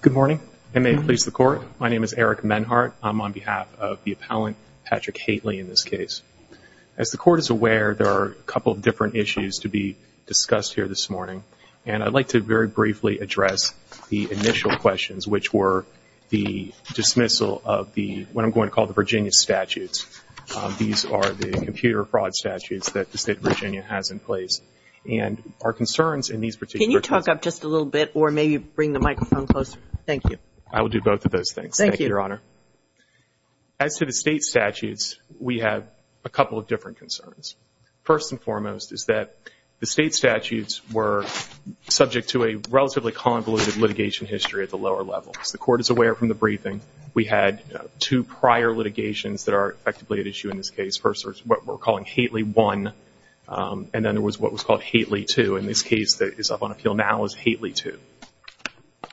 Good morning, and may it please the Court. My name is Eric Menhart. I'm on behalf of the appellant Patrick Hately in this case. As the Court is aware, there are a couple of different issues to be discussed here this morning, and I'd like to very briefly address the initial questions, which were the dismissal of what I'm going to call the Virginia statutes. These are the computer fraud statutes that the State of Virginia has in place. And our concerns in these particular cases— Can you talk up just a little bit, or maybe bring the microphone closer? Thank you. I will do both of those things. Thank you. Thank you, Your Honor. As to the State statutes, we have a couple of different concerns. First and foremost is that the State statutes were subject to a relatively convoluted litigation history at the lower level. As the Court is aware from the briefing, we had two prior litigations that are effectively at issue in this case. The first is what we're calling Hately 1, and then there was what was called Hately 2. In this case that is up on appeal now is Hately 2.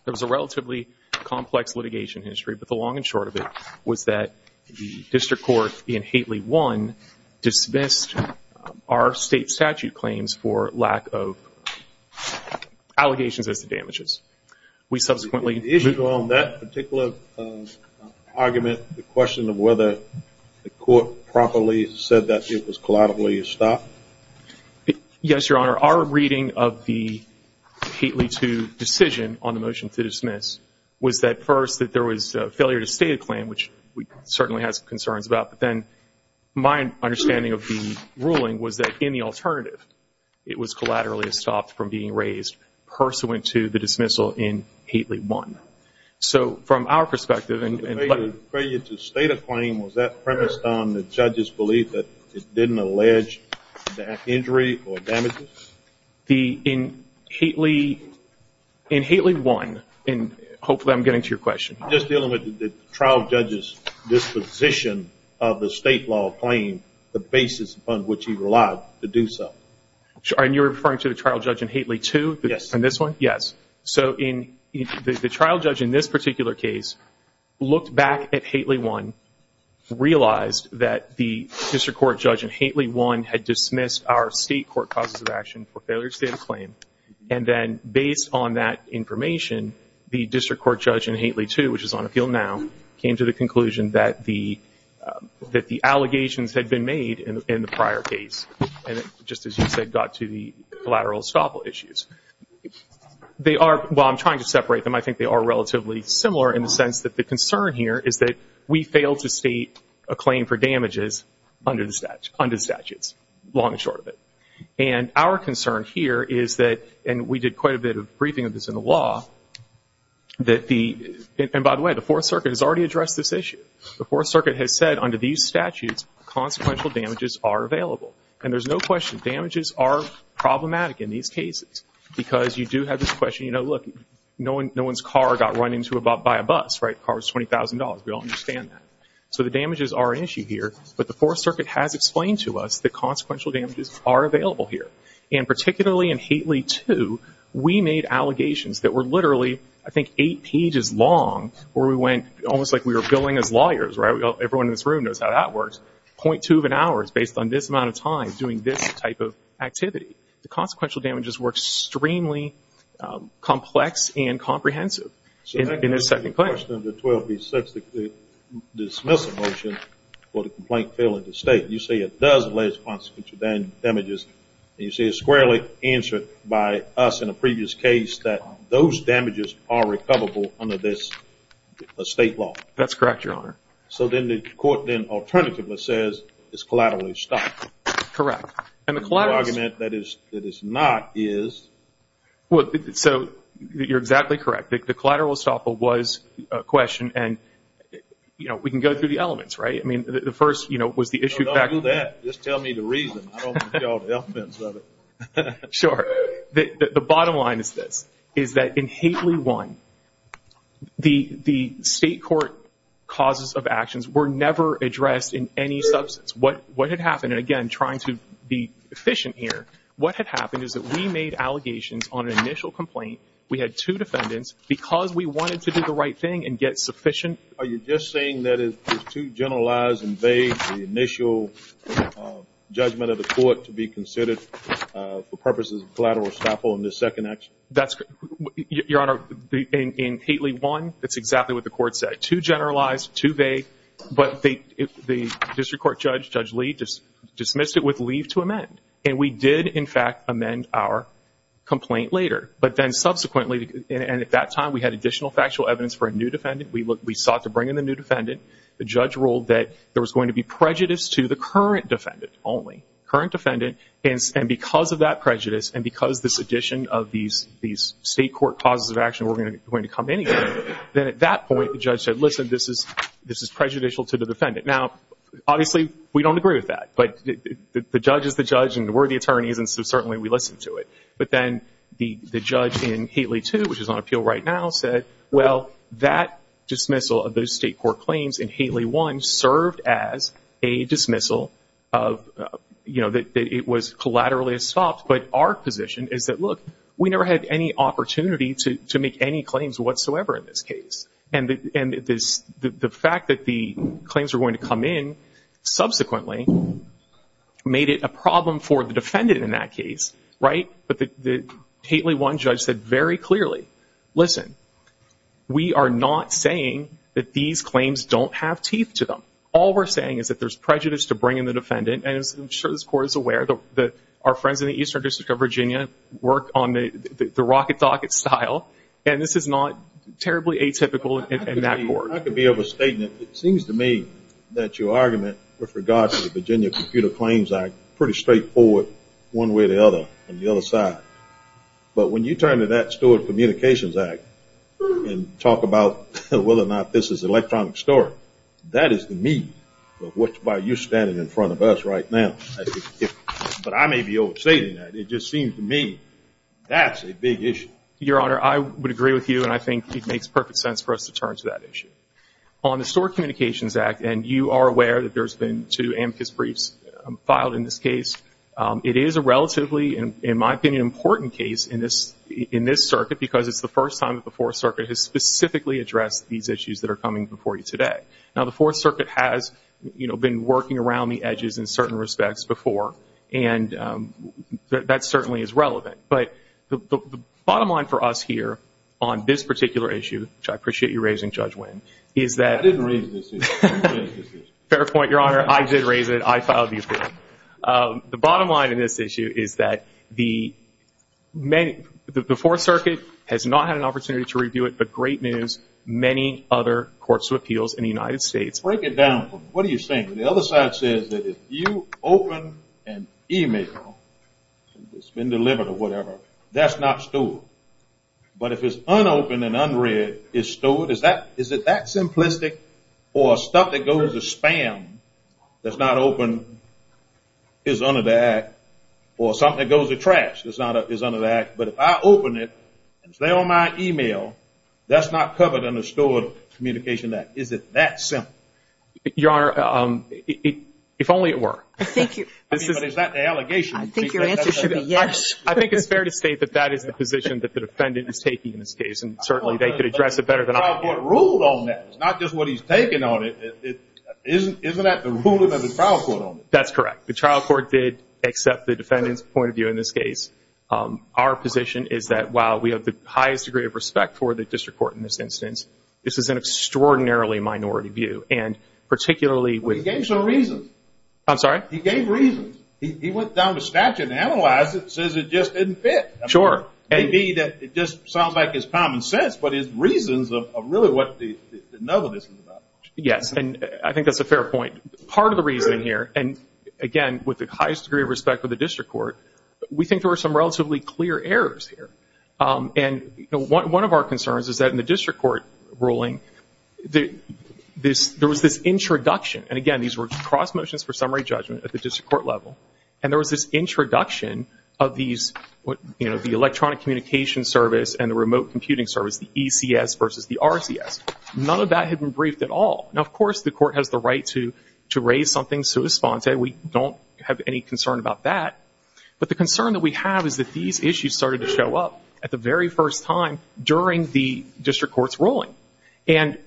There was a relatively complex litigation history, but the long and short of it was that the district court in Hately 1 dismissed our State statute claims The issue on that particular argument, the question of whether the court properly said that it was collaterally stopped? Yes, Your Honor. Our reading of the Hately 2 decision on the motion to dismiss was that first that there was a failure to state a claim, which we certainly had some concerns about. Then my understanding of the ruling was that in the alternative, it was collaterally stopped from being raised pursuant to the dismissal in Hately 1. So from our perspective and Failure to state a claim, was that premised on the judge's belief that it didn't allege back injury or damages? In Hately 1, and hopefully I'm getting to your question. Just dealing with the trial judge's disposition of the state law claim, the basis upon which he relied to do so. And you're referring to the trial judge in Hately 2? Yes. In this one? Yes. So the trial judge in this particular case looked back at Hately 1, realized that the district court judge in Hately 1 had dismissed our state court causes of action for failure to state a claim. And then based on that information, the district court judge in Hately 2, which is on appeal now, came to the conclusion that the allegations had been made in the prior case. And just as you said, got to the collateral estoppel issues. While I'm trying to separate them, I think they are relatively similar in the sense that the concern here is that we failed to state a claim for damages under the statutes. Long and short of it. And our concern here is that, and we did quite a bit of briefing of this in the law, that the, and by the way, the Fourth Circuit has already addressed this issue. The Fourth Circuit has said under these statutes, consequential damages are available. And there's no question, damages are problematic in these cases. Because you do have this question, you know, look, no one's car got run into by a bus, right? The car was $20,000. We all understand that. So the damages are an issue here, but the Fourth Circuit has explained to us that consequential damages are available here. And particularly in Hately 2, we made allegations that were literally, I think, eight pages long, where we went, almost like we were billing as lawyers, right? Everyone in this room knows how that works. .2 of an hour is based on this amount of time doing this type of activity. The consequential damages were extremely complex and comprehensive in this second claim. The question of the 12B6 dismissal motion for the complaint failing to state, you say it does lay consequential damages, and you say it's squarely answered by us in a previous case that those damages are recoverable under this state law. That's correct, Your Honor. So then the court then alternatively says it's collateral estoppel. And the collateral estoppel. And the argument that it's not is. Well, so you're exactly correct. The collateral estoppel was a question, and, you know, we can go through the elements, right? I mean, the first, you know, was the issue. Don't do that. Just tell me the reason. I don't want to be all the elephants of it. Sure. The bottom line is this, is that in Hately 1, the state court causes of actions were never addressed in any substance. What had happened, and again, trying to be efficient here, what had happened is that we made allegations on an initial complaint. We had two defendants because we wanted to do the right thing and get sufficient. Are you just saying that it's too generalized and vague, the initial judgment of the court to be considered for purposes of collateral estoppel in this second action? That's correct. Your Honor, in Hately 1, it's exactly what the court said. It's too generalized, too vague, but the district court judge, Judge Lee, dismissed it with leave to amend. And we did, in fact, amend our complaint later. But then subsequently, and at that time, we had additional factual evidence for a new defendant. We sought to bring in a new defendant. The judge ruled that there was going to be prejudice to the current defendant only, current defendant, and because of that prejudice and because this addition of these state court causes of action were going to come in again, then at that point, the judge said, listen, this is prejudicial to the defendant. Now, obviously, we don't agree with that. But the judge is the judge and we're the attorneys, and so certainly we listen to it. But then the judge in Hately 2, which is on appeal right now, said, well, that dismissal of those state court claims in Hately 1 served as a dismissal of, you know, that it was collaterally estopped. But our position is that, look, we never had any opportunity to make any claims whatsoever in this case. And the fact that the claims were going to come in subsequently made it a problem for the defendant in that case, right? But the Hately 1 judge said very clearly, listen, we are not saying that these claims don't have teeth to them. All we're saying is that there's prejudice to bring in the defendant. And I'm sure this court is aware that our friends in the Eastern District of Virginia work on the rocket docket style. And this is not terribly atypical in that court. I could be of a statement. It seems to me that your argument with regards to the Virginia Computer Claims Act is pretty straightforward one way or the other on the other side. But when you turn to that Stewart Communications Act and talk about whether or not this is an electronic story, that is to me what you're standing in front of us right now. But I may be overstating that. It just seems to me that's a big issue. Your Honor, I would agree with you, and I think it makes perfect sense for us to turn to that issue. On the Stewart Communications Act, and you are aware that there's been two amicus briefs filed in this case, it is a relatively, in my opinion, important case in this circuit, because it's the first time that the Fourth Circuit has specifically addressed these issues that are coming before you today. Now, the Fourth Circuit has, you know, been working around the edges in certain respects before, and that certainly is relevant. But the bottom line for us here on this particular issue, which I appreciate you raising, Judge Winn, is that – I didn't raise this issue. Fair point, Your Honor. I did raise it. I filed the opinion. The bottom line in this issue is that the Fourth Circuit has not had an opportunity to review it, but great news, many other courts of appeals in the United States. Break it down for me. What are you saying? The other side says that if you open an email that's been delivered or whatever, that's not Stewart. But if it's unopened and unread, it's Stewart. Is it that simplistic, or stuff that goes to spam that's not open is under the Act, or something that goes to trash is under the Act? But if I open it and it's there on my email, that's not covered under the Stewart Communication Act. Is it that simple? Your Honor, if only it were. But is that the allegation? I think your answer should be yes. I think it's fair to state that that is the position that the defendant is taking in this case, and certainly they could address it better than I can. But the trial court ruled on that. It's not just what he's taking on it. Isn't that the ruling of the trial court on it? That's correct. The trial court did accept the defendant's point of view in this case. Our position is that while we have the highest degree of respect for the district court in this instance, this is an extraordinarily minority view. And particularly with- He gave some reasons. I'm sorry? He gave reasons. He went down to statute and analyzed it and says it just didn't fit. Sure. Maybe that just sounds like it's common sense, but his reasons are really what the nub of this is about. Yes, and I think that's a fair point. Part of the reasoning here, and, again, with the highest degree of respect for the district court, we think there were some relatively clear errors here. And one of our concerns is that in the district court ruling, there was this introduction. And, again, these were cross motions for summary judgment at the district court level. And there was this introduction of the electronic communication service and the remote computing service, the ECS versus the RCS. None of that had been briefed at all. Now, of course, the court has the right to raise something sui sponte. We don't have any concern about that. But the concern that we have is that these issues started to show up at the very first time during the district court's ruling. And,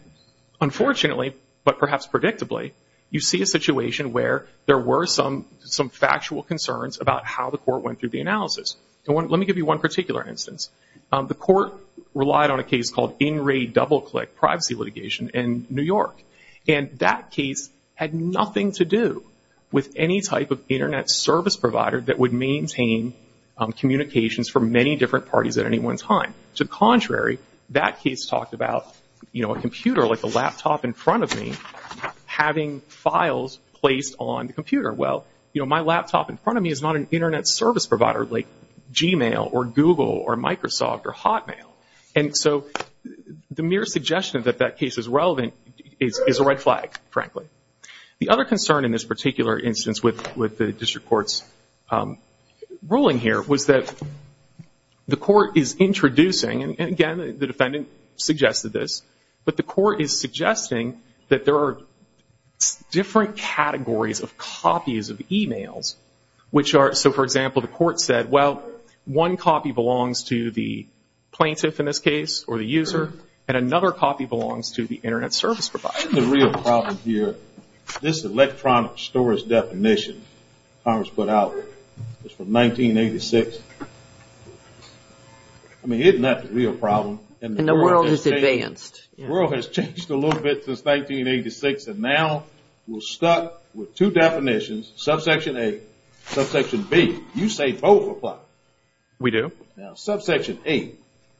unfortunately, but perhaps predictably, you see a situation where there were some factual concerns about how the court went through the analysis. Let me give you one particular instance. The court relied on a case called In Re Double Click privacy litigation in New York. And that case had nothing to do with any type of Internet service provider that would maintain communications for many different parties at any one time. To the contrary, that case talked about, you know, a computer like a laptop in front of me having files placed on the computer. Well, you know, my laptop in front of me is not an Internet service provider like Gmail or Google or Microsoft or Hotmail. And so the mere suggestion that that case is relevant is a red flag, frankly. The other concern in this particular instance with the district court's ruling here was that the court is introducing, and again the defendant suggested this, but the court is suggesting that there are different categories of copies of e-mails which are, so for example the court said, well, one copy belongs to the plaintiff in this case or the user and another copy belongs to the Internet service provider. Isn't the real problem here, this electronic storage definition Congress put out, it's from 1986. I mean, isn't that the real problem? And the world has advanced. The world has changed a little bit since 1986 and now we're stuck with two definitions, subsection A, subsection B. You say both apply. We do. Now subsection A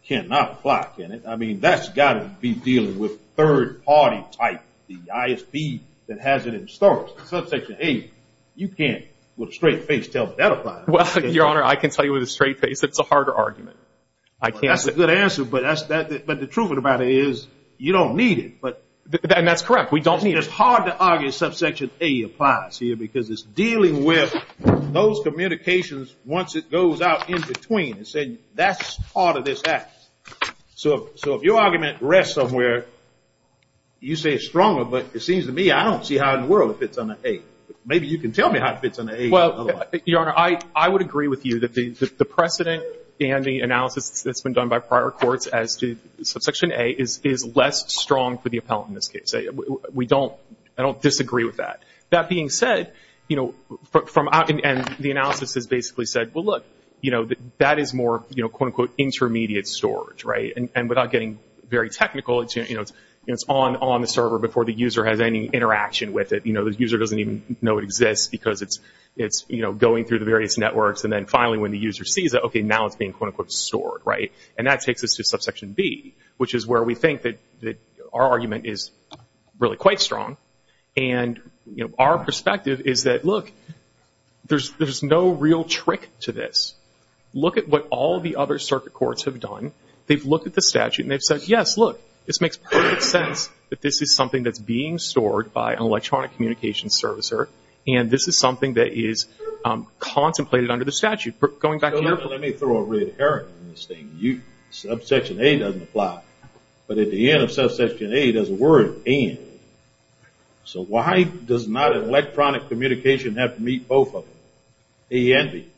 cannot apply, can it? I mean, that's got to be dealing with third party type, the ISB that has it in storage. Subsection A, you can't with a straight face tell me that applies. Your Honor, I can tell you with a straight face it's a harder argument. That's a good answer, but the truth of the matter is you don't need it. And that's correct, we don't need it. It's hard to argue subsection A applies here because it's dealing with those communications once it goes out in between. That's part of this act. So if your argument rests somewhere, you say it's stronger, but it seems to me I don't see how in the world it fits under A. Maybe you can tell me how it fits under A. Well, Your Honor, I would agree with you that the precedent and the analysis that's been done by prior courts as to subsection A is less strong for the appellant in this case. We don't, I don't disagree with that. That being said, you know, and the analysis has basically said, well, look, that is more quote unquote intermediate storage, right? And without getting very technical, it's on the server before the user has any interaction with it. The user doesn't even know it exists because it's going through the various networks. And then finally when the user sees it, okay, now it's being quote unquote stored, right? And that takes us to subsection B, which is where we think that our argument is really quite strong. And, you know, our perspective is that, look, there's no real trick to this. Look at what all the other circuit courts have done. They've looked at the statute and they've said, yes, look, this makes perfect sense that this is something that's being stored by an electronic communications servicer, and this is something that is contemplated under the statute. Going back to your point. Let me throw a red herring in this thing. Subsection A doesn't apply, but at the end of subsection A there's a word, and. So why does not an electronic communication have to meet both of them, A and B?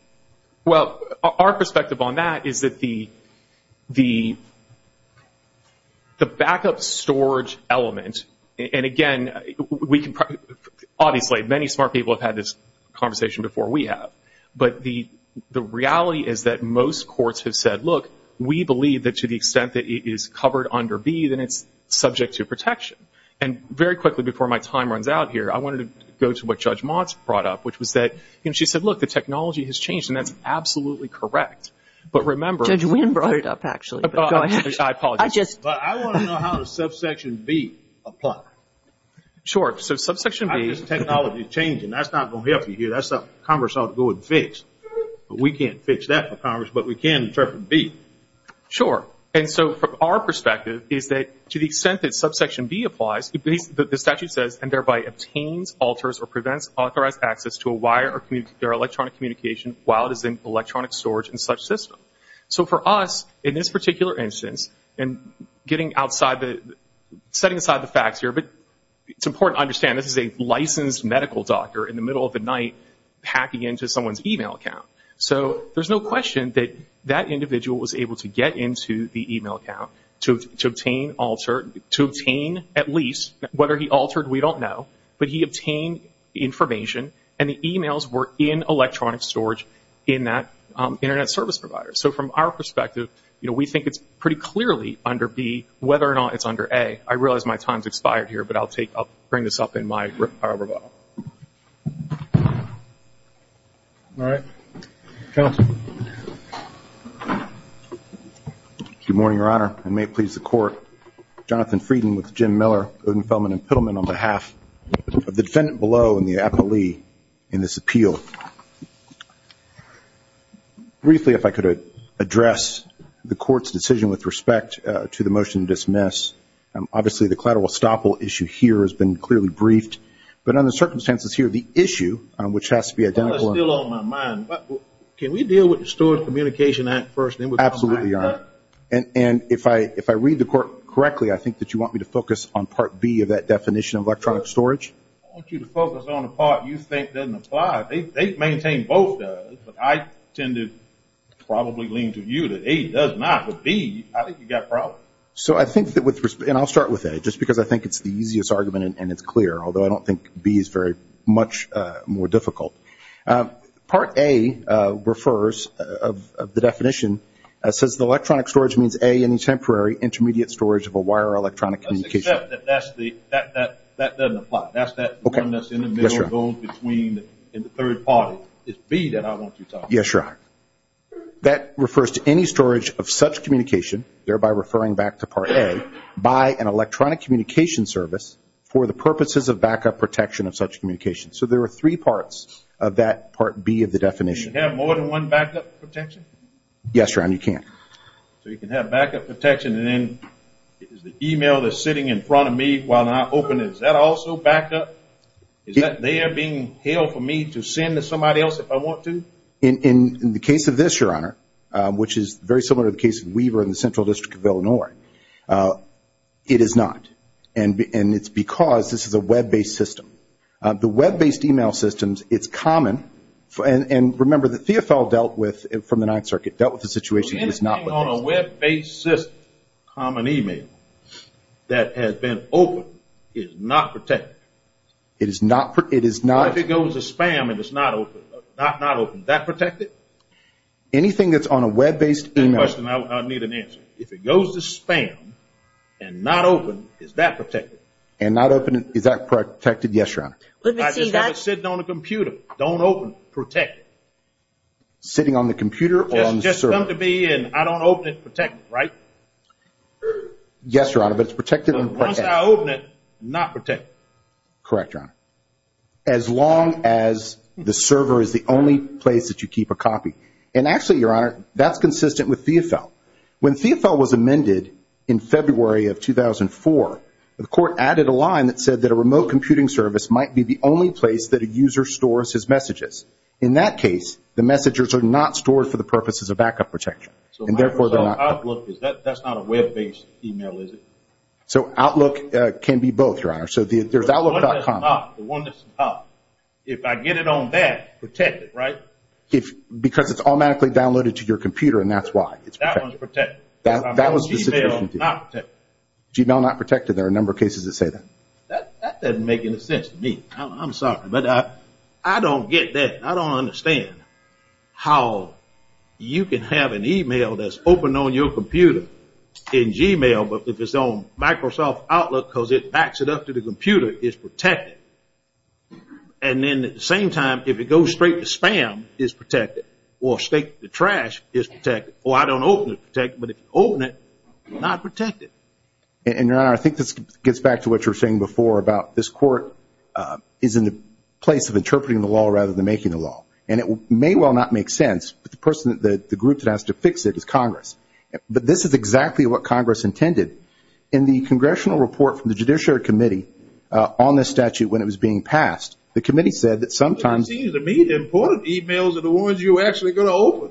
Well, our perspective on that is that the backup storage element, and again, obviously many smart people have had this conversation before we have, but the reality is that most courts have said, look, we believe that to the extent that it is covered under B, then it's subject to protection. And very quickly before my time runs out here, I wanted to go to what Judge Motz brought up, which was that, you know, she said, look, the technology has changed, and that's absolutely correct. But remember. Judge Wynn brought it up, actually. I apologize. I just. But I want to know how does subsection B apply? Sure. So subsection B. The technology is changing. That's not going to help you here. That's something Congress ought to go and fix. But we can't fix that for Congress, but we can interpret B. Sure. And so from our perspective is that to the extent that subsection B applies, the statute says, and thereby obtains, alters, or prevents authorized access to a wire or electronic communication while it is in electronic storage in such a system. So for us, in this particular instance, and getting outside the, setting aside the facts here, but it's important to understand this is a licensed medical doctor in the middle of the night packing into someone's e-mail account. So there's no question that that individual was able to get into the e-mail account to obtain, alter, to obtain at least, whether he altered, we don't know, but he obtained information, and the e-mails were in electronic storage in that Internet service provider. So from our perspective, you know, we think it's pretty clearly under B, whether or not it's under A. I realize my time's expired here, but I'll bring this up in my rebuttal. All right. Counsel. Good morning, Your Honor, and may it please the Court, Jonathan Frieden with Jim Miller, Odenfeldman, and Pittleman on behalf of the defendant below and the appellee in this appeal. So briefly, if I could address the Court's decision with respect to the motion to dismiss. Obviously, the collateral estoppel issue here has been clearly briefed, but under the circumstances here, the issue, which has to be identical. Well, that's still on my mind. Can we deal with the Storage Communication Act first, then we'll come back to that? Absolutely, Your Honor. And if I read the Court correctly, I think that you want me to focus on Part B of that definition of electronic storage? I want you to focus on the part you think doesn't apply. They maintain both does, but I tend to probably lean to view that A does not. But B, I think you've got a problem. So I think that with respect, and I'll start with A, just because I think it's the easiest argument and it's clear, although I don't think B is very much more difficult. Part A refers of the definition, it says the electronic storage means A, any temporary intermediate storage of a wire or electronic communication. Let's accept that that doesn't apply. That's that one that's in the middle, goes between, in the third party. It's B that I want you to talk about. Yes, Your Honor. That refers to any storage of such communication, thereby referring back to Part A, by an electronic communication service for the purposes of backup protection of such communication. So there are three parts of that Part B of the definition. Can you have more than one backup protection? Yes, Your Honor, you can. So you can have backup protection, and then is the email that's sitting in front of me while I open it, is that also backup? Is that there being held for me to send to somebody else if I want to? In the case of this, Your Honor, which is very similar to the case of Weaver in the Central District of Illinois, it is not. And it's because this is a web-based system. The web-based email systems, it's common, and remember that Theofel dealt with, from the Ninth Circuit, dealt with the situation that's not web-based. Anything on a web-based system, common email, that has been opened is not protected. It is not. If it goes to spam and it's not opened, is that protected? Anything that's on a web-based email. Good question. I need an answer. If it goes to spam and not opened, is that protected? And not opened, is that protected? Yes, Your Honor. I just have it sitting on the computer. Don't open it. Protect it. Sitting on the computer or on the server? I just come to be in. I don't open it. Protect it, right? Yes, Your Honor, but it's protected and protected. Once I open it, not protected. Correct, Your Honor. As long as the server is the only place that you keep a copy. And actually, Your Honor, that's consistent with Theofel. When Theofel was amended in February of 2004, the court added a line that said that a remote computing service might be the only place that a user stores his messages. In that case, the messages are not stored for the purposes of backup protection. So Microsoft Outlook, that's not a web-based email, is it? So Outlook can be both, Your Honor. So there's Outlook.com. The one that's not. If I get it on that, protect it, right? Because it's automatically downloaded to your computer, and that's why. That one's protected. Gmail not protected. Gmail not protected. There are a number of cases that say that. That doesn't make any sense to me. I'm sorry, but I don't get that. I don't understand how you can have an email that's open on your computer in Gmail, but if it's on Microsoft Outlook because it backs it up to the computer, it's protected. And then at the same time, if it goes straight to spam, it's protected. Or the trash is protected. Or I don't know if it's protected, but if you open it, it's not protected. And, Your Honor, I think this gets back to what you were saying before about this court is in the place of interpreting the law rather than making the law. And it may well not make sense, but the person, the group that has to fix it is Congress. But this is exactly what Congress intended. In the congressional report from the Judiciary Committee on this statute when it was being passed, the committee said that sometimes. It seems to me that important emails are the ones you're actually going to open.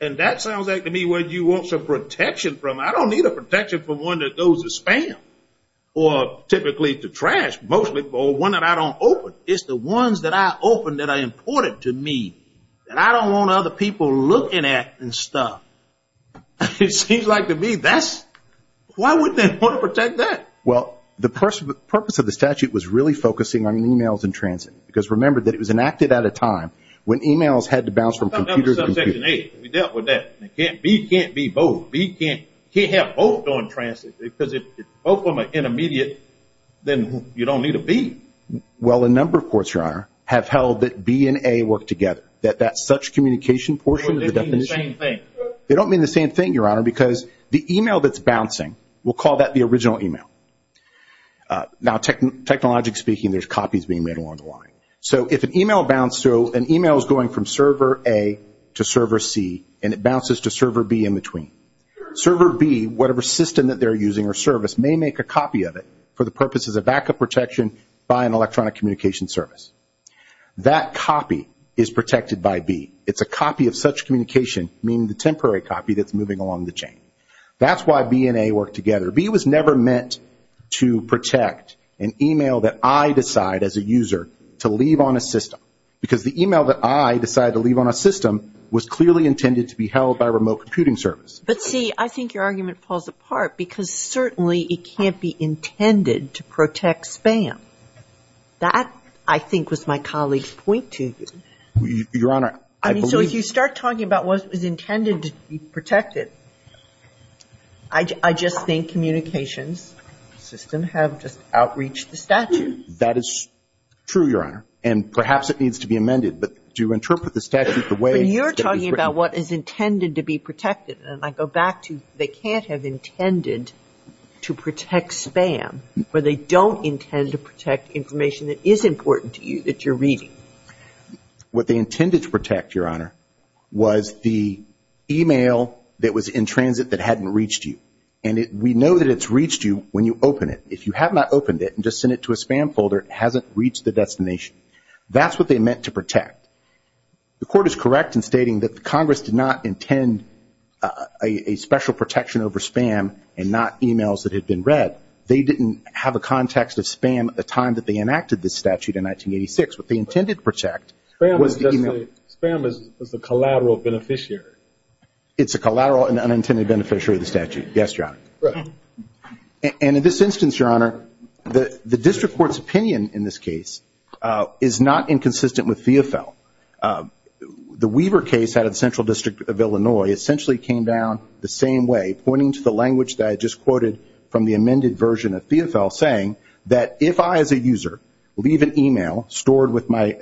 And that sounds like to me where you want some protection from. I don't need a protection from one that goes to spam or typically to trash mostly, or one that I don't open. It's the ones that I open that are important to me that I don't want other people looking at and stuff. It seems like to me that's, why would they want to protect that? Well, the purpose of the statute was really focusing on emails in transit because remember that it was enacted at a time when emails had to bounce from computers. We dealt with that. B can't be both. B can't have both on transit because if both of them are intermediate, then you don't need a B. Well, a number of courts, Your Honor, have held that B and A work together, that that such communication portion of the definition. They don't mean the same thing. They don't mean the same thing, Your Honor, because the email that's bouncing, we'll call that the original email. Now, technologically speaking, there's copies being made along the line. So if an email is going from server A to server C and it bounces to server B in between, server B, whatever system that they're using or service, may make a copy of it for the purposes of backup protection by an electronic communication service. That copy is protected by B. It's a copy of such communication, meaning the temporary copy that's moving along the chain. That's why B and A work together. B was never meant to protect an email that I decide as a user to leave on a system because the email that I decide to leave on a system was clearly intended to be held by a remote computing service. But, see, I think your argument falls apart because certainly it can't be intended to protect spam. That, I think, was my colleague's point to you. Your Honor, I believe. Well, if you start talking about what was intended to be protected, I just think communications systems have just outreached the statute. That is true, Your Honor, and perhaps it needs to be amended. But to interpret the statute the way that it's written. But you're talking about what is intended to be protected. And I go back to they can't have intended to protect spam where they don't intend to protect information that is important to you, that you're reading. What they intended to protect, Your Honor, was the email that was in transit that hadn't reached you. And we know that it's reached you when you open it. If you have not opened it and just sent it to a spam folder, it hasn't reached the destination. That's what they meant to protect. The Court is correct in stating that the Congress did not intend a special protection over spam and not emails that had been read. They didn't have a context of spam at the time that they enacted this statute in 1986. What they intended to protect was the email. Spam is a collateral beneficiary. It's a collateral and unintended beneficiary of the statute. Yes, Your Honor. And in this instance, Your Honor, the district court's opinion in this case is not inconsistent with FEFL. The Weaver case out of the Central District of Illinois essentially came down the same way, pointing to the language that I just quoted from the amended version of FEFL, saying that if I, as a user, leave an email stored with my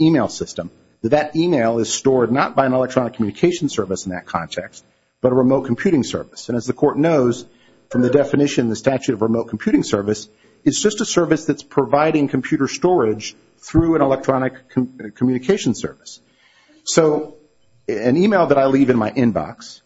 email system, that that email is stored not by an electronic communication service in that context, but a remote computing service. And as the Court knows from the definition in the statute of remote computing service, it's just a service that's providing computer storage through an electronic communication service. So an email that I leave in my inbox,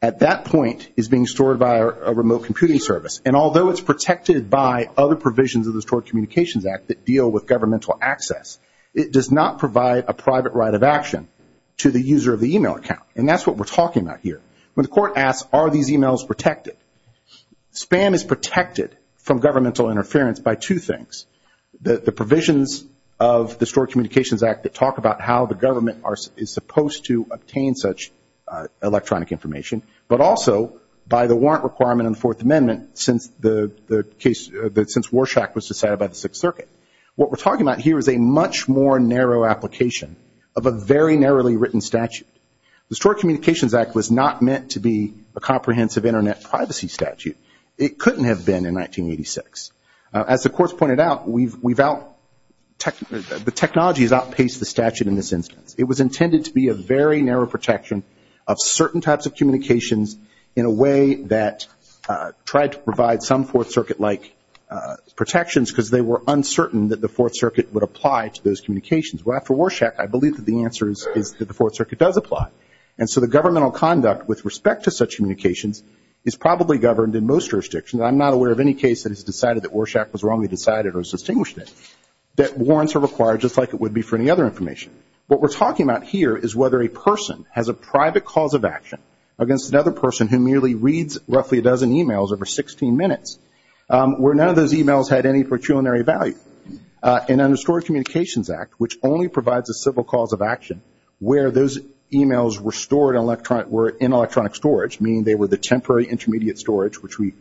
at that point, is being stored by a remote computing service. And although it's protected by other provisions of the Stored Communications Act that deal with governmental access, it does not provide a private right of action to the user of the email account. And that's what we're talking about here. When the Court asks, are these emails protected, spam is protected from governmental interference by two things, the provisions of the Stored Communications Act that talk about how the government is supposed to obtain such electronic information, but also by the warrant requirement in the Fourth Amendment since Warshak was decided by the Sixth Circuit. What we're talking about here is a much more narrow application of a very narrowly written statute. The Stored Communications Act was not meant to be a comprehensive Internet privacy statute. It couldn't have been in 1986. As the Court's pointed out, the technology has outpaced the statute in this instance. It was intended to be a very narrow protection of certain types of communications in a way that tried to provide some Fourth Circuit-like protections because they were uncertain that the Fourth Circuit would apply to those communications. Well, after Warshak, I believe that the answer is that the Fourth Circuit does apply. And so the governmental conduct with respect to such communications is probably governed in most jurisdictions. I'm not aware of any case that has decided that Warshak was wrongly decided or distinguished it, that warrants are required just like it would be for any other information. What we're talking about here is whether a person has a private cause of action against another person who merely reads roughly a dozen e-mails over 16 minutes where none of those e-mails had any preculinary value. And under the Stored Communications Act, which only provides a civil cause of action, where those e-mails were stored in electronic storage, meaning they were the temporary intermediate storage, which we,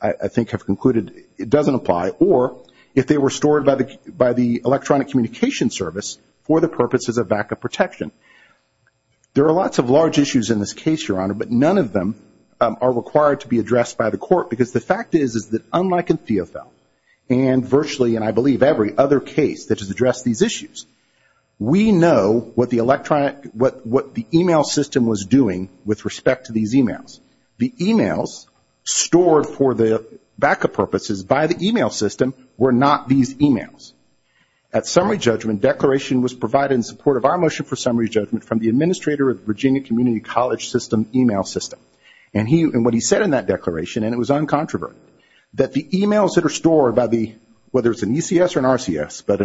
I think, have concluded doesn't apply, or if they were stored by the electronic communication service for the purposes of backup protection. There are lots of large issues in this case, Your Honor, but none of them are required to be addressed by the court because the fact is, is that unlike in Theophil and virtually, and I believe every other case that has addressed these issues, we know what the electronic, what the e-mail system was doing with respect to these e-mails. The e-mails stored for the backup purposes by the e-mail system were not these e-mails. At summary judgment, declaration was provided in support of our motion for summary judgment from the administrator of the Virginia Community College system e-mail system. And what he said in that declaration, and it was uncontroverted, that the e-mails that are stored by the, whether it's an ECS or an RCS, but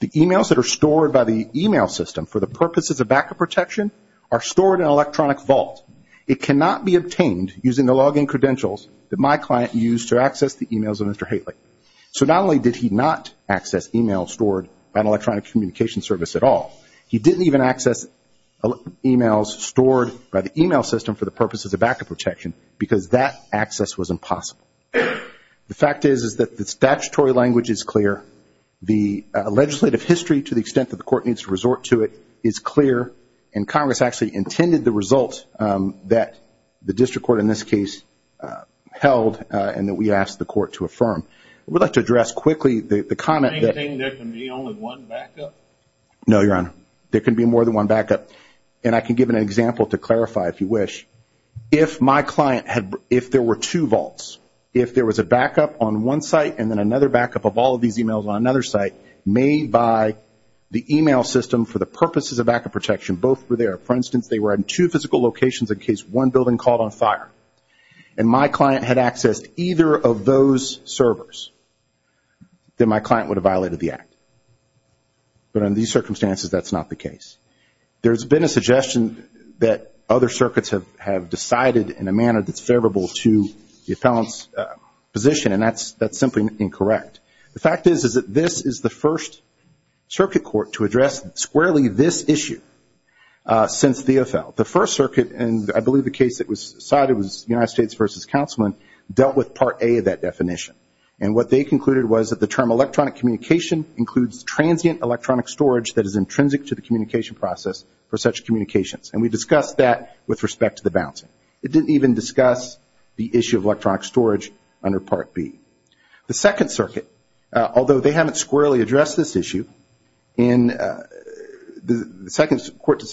the e-mails that are stored by the e-mail system for the purposes of backup protection are stored in an electronic vault. It cannot be obtained using the login credentials that my client used to access the e-mails of Mr. Haley. So not only did he not access e-mails stored by an electronic communication service at all, he didn't even access e-mails stored by the e-mail system for the purposes of backup protection because that access was impossible. The fact is, is that the statutory language is clear. The legislative history, to the extent that the court needs to resort to it, is clear. And Congress actually intended the result that the district court in this case held and that we asked the court to affirm. I would like to address quickly the comment that- Do you think there can be only one backup? No, Your Honor. There can be more than one backup. And I can give an example to clarify, if you wish. If my client had, if there were two vaults, if there was a backup on one site and then another backup of all of these e-mails on another site made by the e-mail system for the purposes of backup protection, both were there. For instance, they were in two physical locations in case one building caught on fire, and my client had accessed either of those servers, then my client would have violated the act. But in these circumstances, that's not the case. There's been a suggestion that other circuits have decided in a manner that's favorable to the The fact is that this is the first circuit court to address squarely this issue since the AFL. The first circuit, and I believe the case that was cited was United States v. Councilman, dealt with Part A of that definition. And what they concluded was that the term electronic communication includes transient electronic storage that is intrinsic to the communication process for such communications. And we discussed that with respect to the bouncing. It didn't even discuss the issue of electronic storage under Part B. The second circuit, although they haven't squarely addressed this issue, in the second court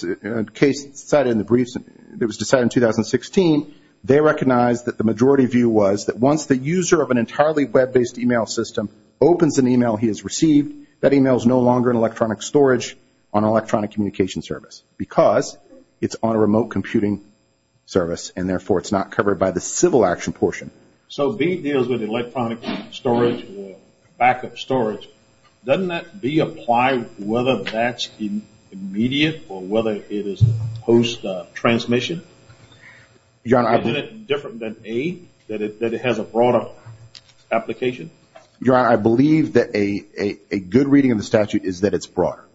case cited in the briefs that was decided in 2016, they recognized that the majority view was that once the user of an entirely web-based e-mail system opens an e-mail he has received, that e-mail is no longer in electronic storage on an electronic communication service because it's on a remote computing service, and therefore it's not covered by the civil action portion. So B deals with electronic storage or backup storage. Doesn't that B apply whether that's immediate or whether it is post-transmission? Is it different than A, that it has a broader application? Your Honor, I believe that a good reading of the statute is that it's broader.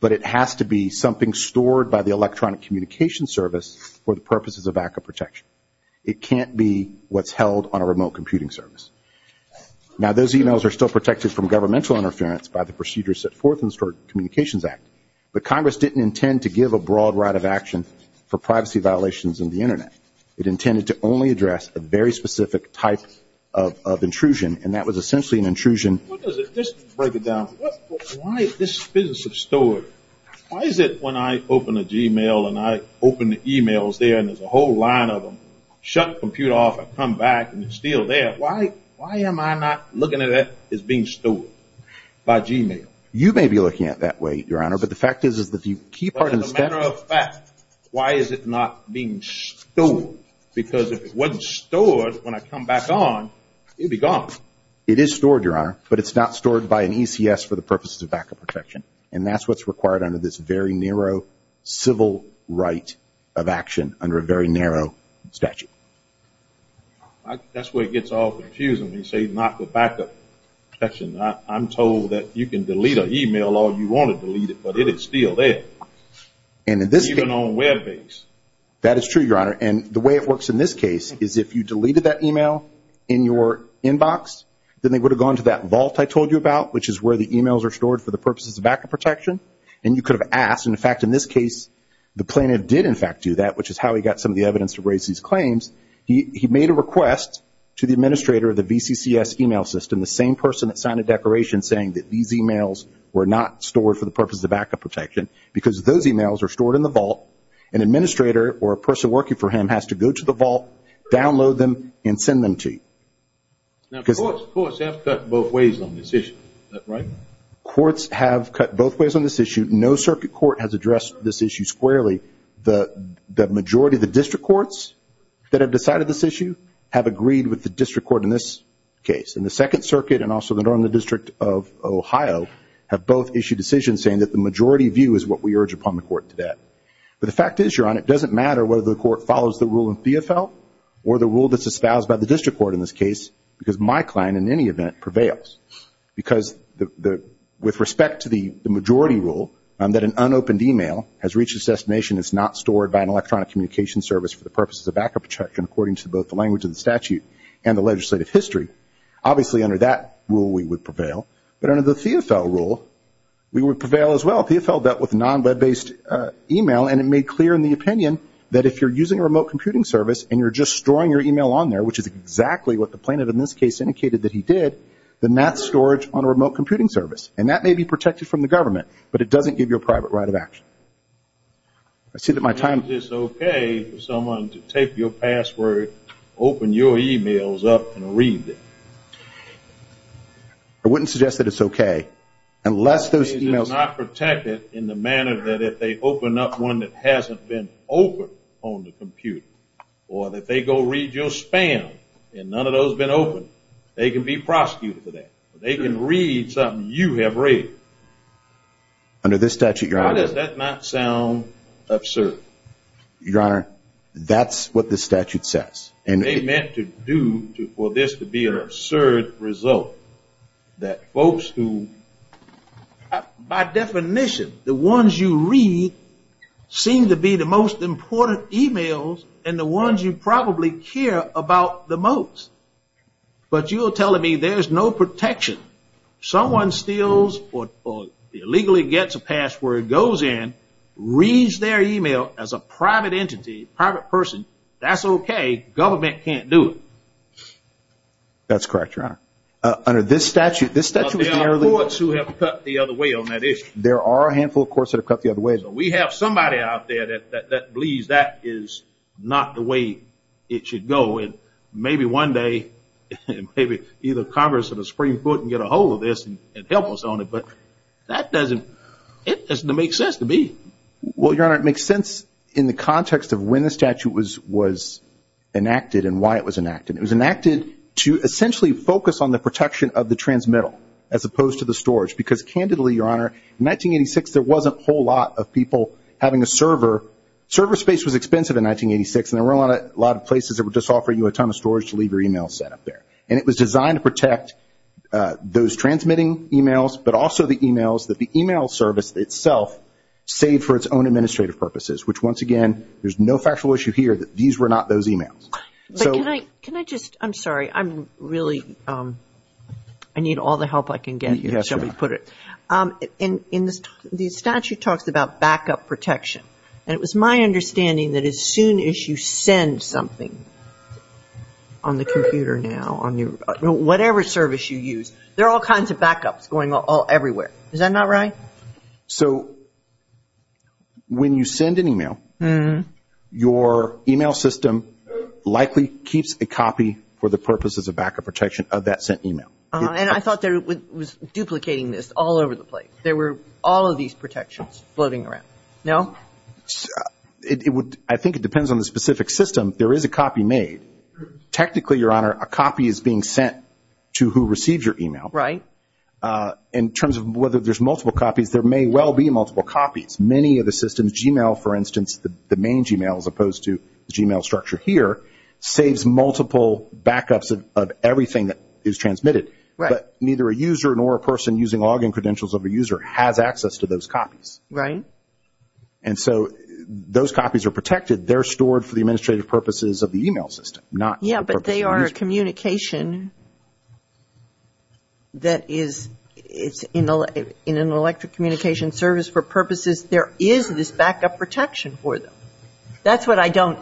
But it has to be something stored by the electronic communication service for the purposes of backup protection. It can't be what's held on a remote computing service. Now, those e-mails are still protected from governmental interference by the procedures set forth in the Stored Communications Act. But Congress didn't intend to give a broad right of action for privacy violations in the Internet. It intended to only address a very specific type of intrusion, and that was essentially an intrusion. Let's break it down. Why is this business of storage, why is it when I open a g-mail and I open the e-mails there and there's a whole line of them, shut the computer off and come back and it's still there, why am I not looking at it as being stored by g-mail? You may be looking at it that way, Your Honor, but the fact is that the key part of the statute— But as a matter of fact, why is it not being stored? Because if it wasn't stored, when I come back on, it would be gone. It is stored, Your Honor, but it's not stored by an ECS for the purposes of backup protection. And that's what's required under this very narrow civil right of action under a very narrow statute. That's where it gets all confusing when you say not the backup protection. I'm told that you can delete an e-mail all you want to delete it, but it is still there. And in this case— Even on web base. That is true, Your Honor. And the way it works in this case is if you deleted that e-mail in your inbox, then they would have gone to that vault I told you about, which is where the e-mails are stored for the purposes of backup protection. And you could have asked. In fact, in this case, the plaintiff did, in fact, do that, which is how he got some of the evidence to raise these claims. He made a request to the administrator of the VCCS e-mail system, the same person that signed a declaration saying that these e-mails were not stored for the purposes of backup protection, because those e-mails are stored in the vault. An administrator or a person working for him has to go to the vault, download them, and send them to you. Now, courts have cut both ways on this issue. Is that right? Courts have cut both ways on this issue. No circuit court has addressed this issue squarely. The majority of the district courts that have decided this issue have agreed with the district court in this case. And the Second Circuit and also the District of Ohio have both issued decisions saying that the majority view is what we urge upon the court to that. But the fact is, Your Honor, it doesn't matter whether the court follows the rule of BFL or the rule that's espoused by the district court in this case, because my client, in any event, prevails. Because with respect to the majority rule, that an unopened e-mail has reached its destination, it's not stored by an electronic communication service for the purposes of backup protection, according to both the language of the statute and the legislative history, obviously under that rule we would prevail. But under the CFL rule, we would prevail as well. CFL dealt with non-web-based e-mail, and it made clear in the opinion that if you're using a remote computing service and you're just storing your e-mail on there, which is exactly what the plaintiff in this case indicated that he did, then that's storage on a remote computing service. And that may be protected from the government, but it doesn't give you a private right of action. I see that my time is up. Is it okay for someone to take your password, open your e-mails up, and read it? I wouldn't suggest that it's okay, unless those e-mails... Or if they go read your spam and none of those have been opened, they can be prosecuted for that. They can read something you have read. Under this statute, Your Honor... Why does that not sound absurd? Your Honor, that's what the statute says. And they meant to do for this to be an absurd result, that folks who... care about the most. But you're telling me there's no protection. Someone steals or illegally gets a password, goes in, reads their e-mail as a private entity, private person, that's okay. Government can't do it. That's correct, Your Honor. Under this statute, this statute... There are courts who have cut the other way on that issue. There are a handful of courts that have cut the other way. We have somebody out there that believes that is not the way it should go. And maybe one day, maybe either Congress or the Supreme Court can get a hold of this and help us on it. But that doesn't... It doesn't make sense to me. Well, Your Honor, it makes sense in the context of when the statute was enacted and why it was enacted. It was enacted to essentially focus on the protection of the transmittal, as opposed to the storage. Because candidly, Your Honor, in 1986, there wasn't a whole lot of people having a server. Server space was expensive in 1986, and there weren't a lot of places that would just offer you a ton of storage to leave your e-mail set up there. And it was designed to protect those transmitting e-mails, but also the e-mails that the e-mail service itself saved for its own administrative purposes, which, once again, there's no factual issue here that these were not those e-mails. But can I just... I'm sorry. I'm really... I need all the help I can get, shall we put it. Yes, Your Honor. The statute talks about backup protection, and it was my understanding that as soon as you send something on the computer now, on whatever service you use, there are all kinds of backups going everywhere. So when you send an e-mail, your e-mail system likely keeps a copy for the purposes of backup protection of that sent e-mail. And I thought that it was duplicating this all over the place. There were all of these protections floating around. No? I think it depends on the specific system. There is a copy made. Technically, Your Honor, a copy is being sent to who receives your e-mail. Right. In terms of whether there's multiple copies, there may well be multiple copies. Many of the systems, e-mail for instance, the main e-mail as opposed to the e-mail structure here, saves multiple backups of everything that is transmitted. Right. But neither a user nor a person using login credentials of a user has access to those copies. Right. And so those copies are protected. They're stored for the administrative purposes of the e-mail system, not... Yes, but they are a communication that is... In an electric communication service for purposes, there is this backup protection for them. That's what I don't...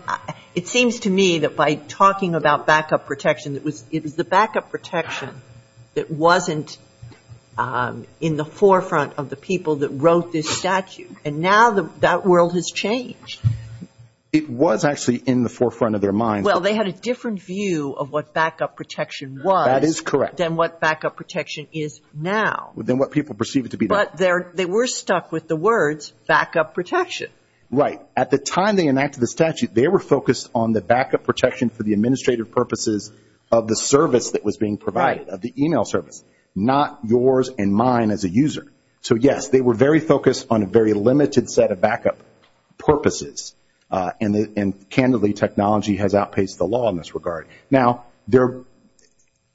It seems to me that by talking about backup protection, it was the backup protection that wasn't in the forefront of the people that wrote this statute. And now that world has changed. It was actually in the forefront of their minds. Well, they had a different view of what backup protection was... That is correct. ...than what backup protection is now. Than what people perceive it to be now. But they were stuck with the words backup protection. Right. At the time they enacted the statute, they were focused on the backup protection for the administrative purposes of the service that was being provided. Right. Of the e-mail service, not yours and mine as a user. So, yes, they were very focused on a very limited set of backup purposes. And, candidly, technology has outpaced the law in this regard. Right. Now,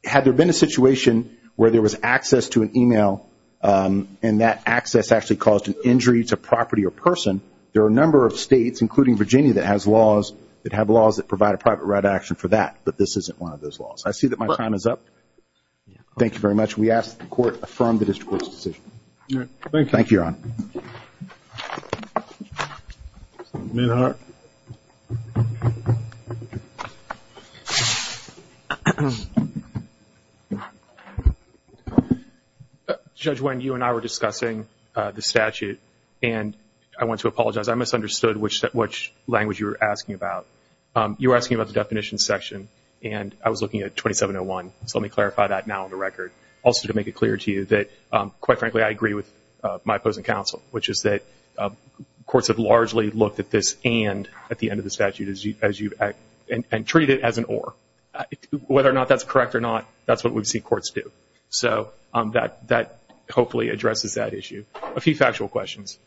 had there been a situation where there was access to an e-mail and that access actually caused an injury to property or person, there are a number of states, including Virginia, that have laws that provide a private write action for that. But this isn't one of those laws. I see that my time is up. Thank you very much. We ask that the Court affirm the District Court's decision. Thank you. Thank you, Your Honor. Mr. Minhart. Judge Wend, you and I were discussing the statute, and I want to apologize. I misunderstood which language you were asking about. You were asking about the definition section, and I was looking at 2701. Also to make it clear to you that, quite frankly, I agree with my opposing counsel, which is that courts have largely looked at this and at the end of the statute and treat it as an or. Whether or not that's correct or not, that's what we've seen courts do. So that hopefully addresses that issue. A few factual questions.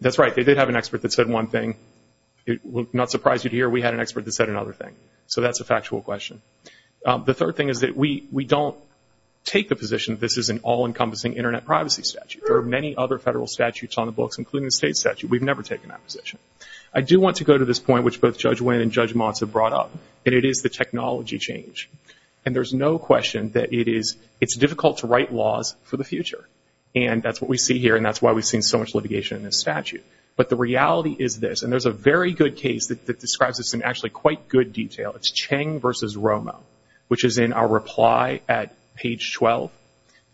That's right. They did have an expert that said one thing. It will not surprise you to hear we had an expert that said another thing. So that's a factual question. The third thing is that we don't take the position that this is an all-encompassing Internet privacy statute. There are many other federal statutes on the books, including the state statute. We've never taken that position. I do want to go to this point, which both Judge Wend and Judge Motz have brought up, and it is the technology change. And there's no question that it's difficult to write laws for the future, and that's what we see here, and that's why we've seen so much litigation in this statute. But the reality is this, and there's a very good case that describes this in actually quite good detail. It's Cheng v. Romo, which is in our reply at page 12.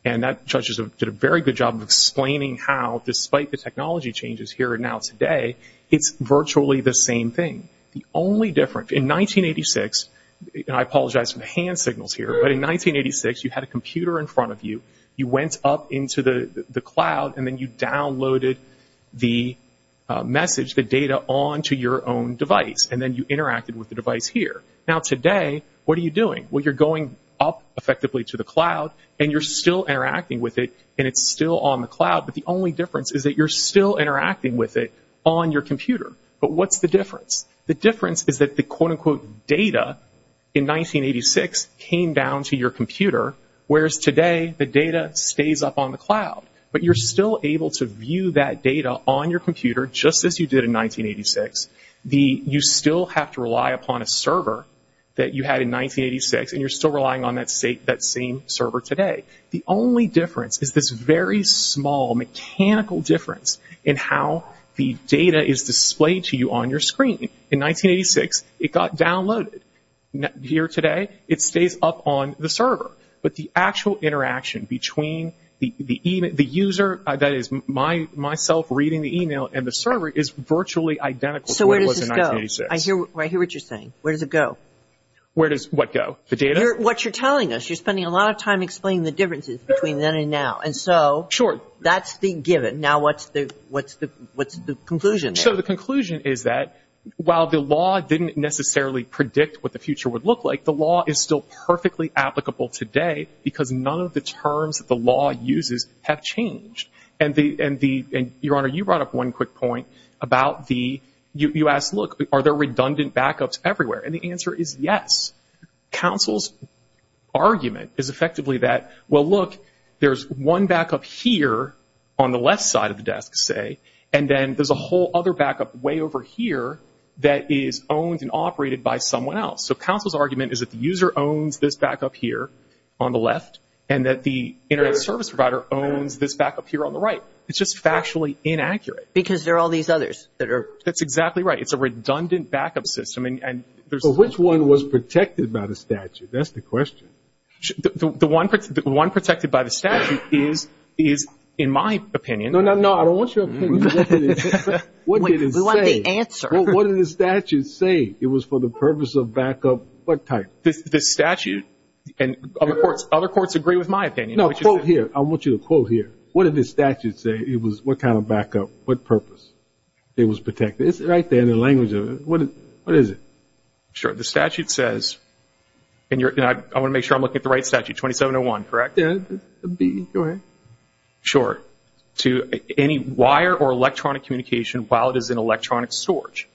And that judge did a very good job of explaining how, despite the technology changes here and now today, it's virtually the same thing. The only difference, in 1986, and I apologize for the hand signals here, but in 1986 you had a computer in front of you. You went up into the cloud, and then you downloaded the message, and then you changed the data onto your own device, and then you interacted with the device here. Now today, what are you doing? Well, you're going up effectively to the cloud, and you're still interacting with it, and it's still on the cloud, but the only difference is that you're still interacting with it on your computer. But what's the difference? The difference is that the quote-unquote data in 1986 came down to your computer, whereas today the data stays up on the cloud. But you're still able to view that data on your computer, just as you did in 1986. You still have to rely upon a server that you had in 1986, and you're still relying on that same server today. The only difference is this very small mechanical difference in how the data is displayed to you on your screen. In 1986, it got downloaded. Here today, it stays up on the server. But the actual interaction between the user, that is myself reading the email, and the server is virtually identical to what it was in 1986. So where does this go? I hear what you're saying. Where does it go? Where does what go? The data? What you're telling us. You're spending a lot of time explaining the differences between then and now. And so that's the given. Now what's the conclusion? So the conclusion is that while the law didn't necessarily predict what the future would look like, the law is still perfectly applicable today, because none of the terms that the law uses have changed. And Your Honor, you brought up one quick point about the— you asked, look, are there redundant backups everywhere? And the answer is yes. Counsel's argument is effectively that, well, look, there's one backup here on the left side of the desk, say, and then there's a whole other backup way over here that is owned and operated by someone else. So counsel's argument is that the user owns this backup here on the left, and that the Internet service provider owns this backup here on the right. It's just factually inaccurate. Because there are all these others that are— That's exactly right. It's a redundant backup system, and there's— But which one was protected by the statute? That's the question. The one protected by the statute is, in my opinion— No, no, no, I don't want your opinion. We want the answer. What did the statute say? It was for the purpose of backup what type? The statute and other courts agree with my opinion. No, quote here. I want you to quote here. What did the statute say? It was what kind of backup, what purpose? It was protected. It's right there in the language of it. What is it? Sure. The statute says, and I want to make sure I'm looking at the right statute, 2701, correct? Yeah, B, go ahead. Sure. To any wire or electronic communication while it is in electronic storage,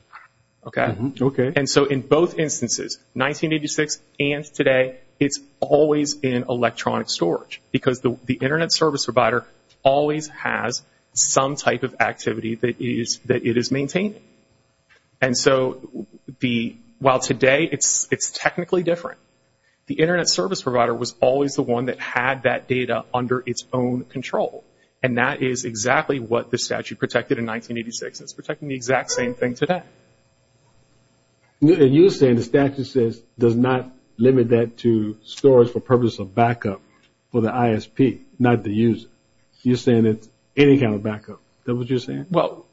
okay? Okay. And so in both instances, 1986 and today, it's always in electronic storage because the Internet service provider always has some type of activity that it is maintaining. And so while today it's technically different, the Internet service provider was always the one that had that data under its own control, and that is exactly what the statute protected in 1986. It's protecting the exact same thing today. And you're saying the statute says, does not limit that to storage for purpose of backup for the ISP, not the user. You're saying it's any kind of backup. Is that what you're saying? Well,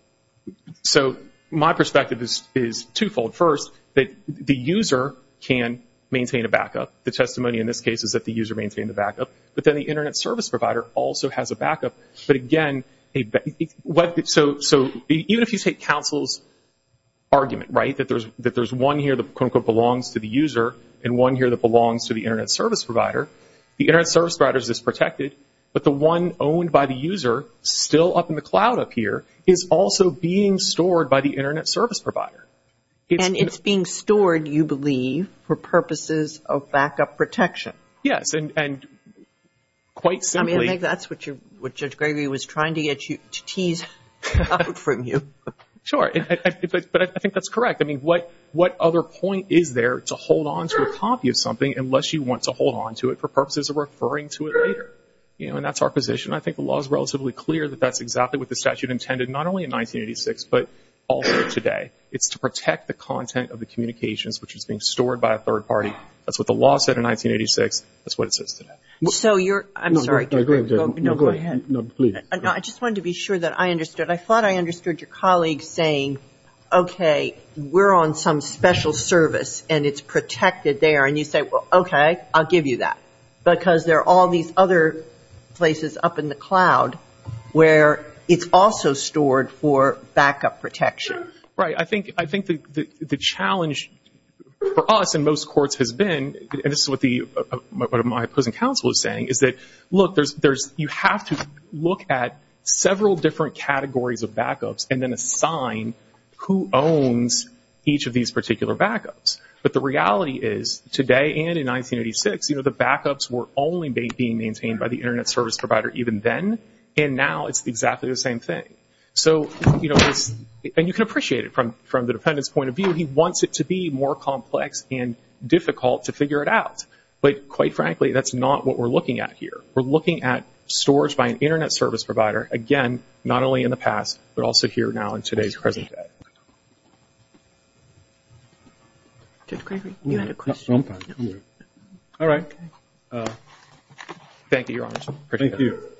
so my perspective is twofold. First, that the user can maintain a backup. The testimony in this case is that the user maintained the backup. But then the Internet service provider also has a backup. But again, so even if you take counsel's argument, right, that there's one here that quote-unquote belongs to the user and one here that belongs to the Internet service provider, the Internet service provider is protected, but the one owned by the user still up in the cloud up here is also being stored by the Internet service provider. And it's being stored, you believe, for purposes of backup protection. Yes, and quite simply... I mean, I think that's what Judge Gregory was trying to tease out from you. Sure, but I think that's correct. I mean, what other point is there to hold onto a copy of something I think the law is relatively clear that that's exactly what the statute intended, not only in 1986 but also today. It's to protect the content of the communications, which is being stored by a third party. That's what the law said in 1986. That's what it says today. So you're... I'm sorry. Go ahead. I just wanted to be sure that I understood. I thought I understood your colleague saying, okay, we're on some special service and it's protected there. And you say, well, okay, I'll give you that. Because there are all these other places up in the cloud where it's also stored for backup protection. Right. I think the challenge for us in most courts has been, and this is what my opposing counsel is saying, is that, look, you have to look at several different categories of backups and then assign who owns each of these particular backups. But the reality is, today and in 1986, the backups were only being maintained by the Internet service provider even then, and now it's exactly the same thing. And you can appreciate it from the defendant's point of view. He wants it to be more complex and difficult to figure it out. But quite frankly, that's not what we're looking at here. We're looking at storage by an Internet service provider, again, not only in the past but also here now in today's present day. Judge Gregory, you had a question? All right. Thank you, Your Honor. Thank you.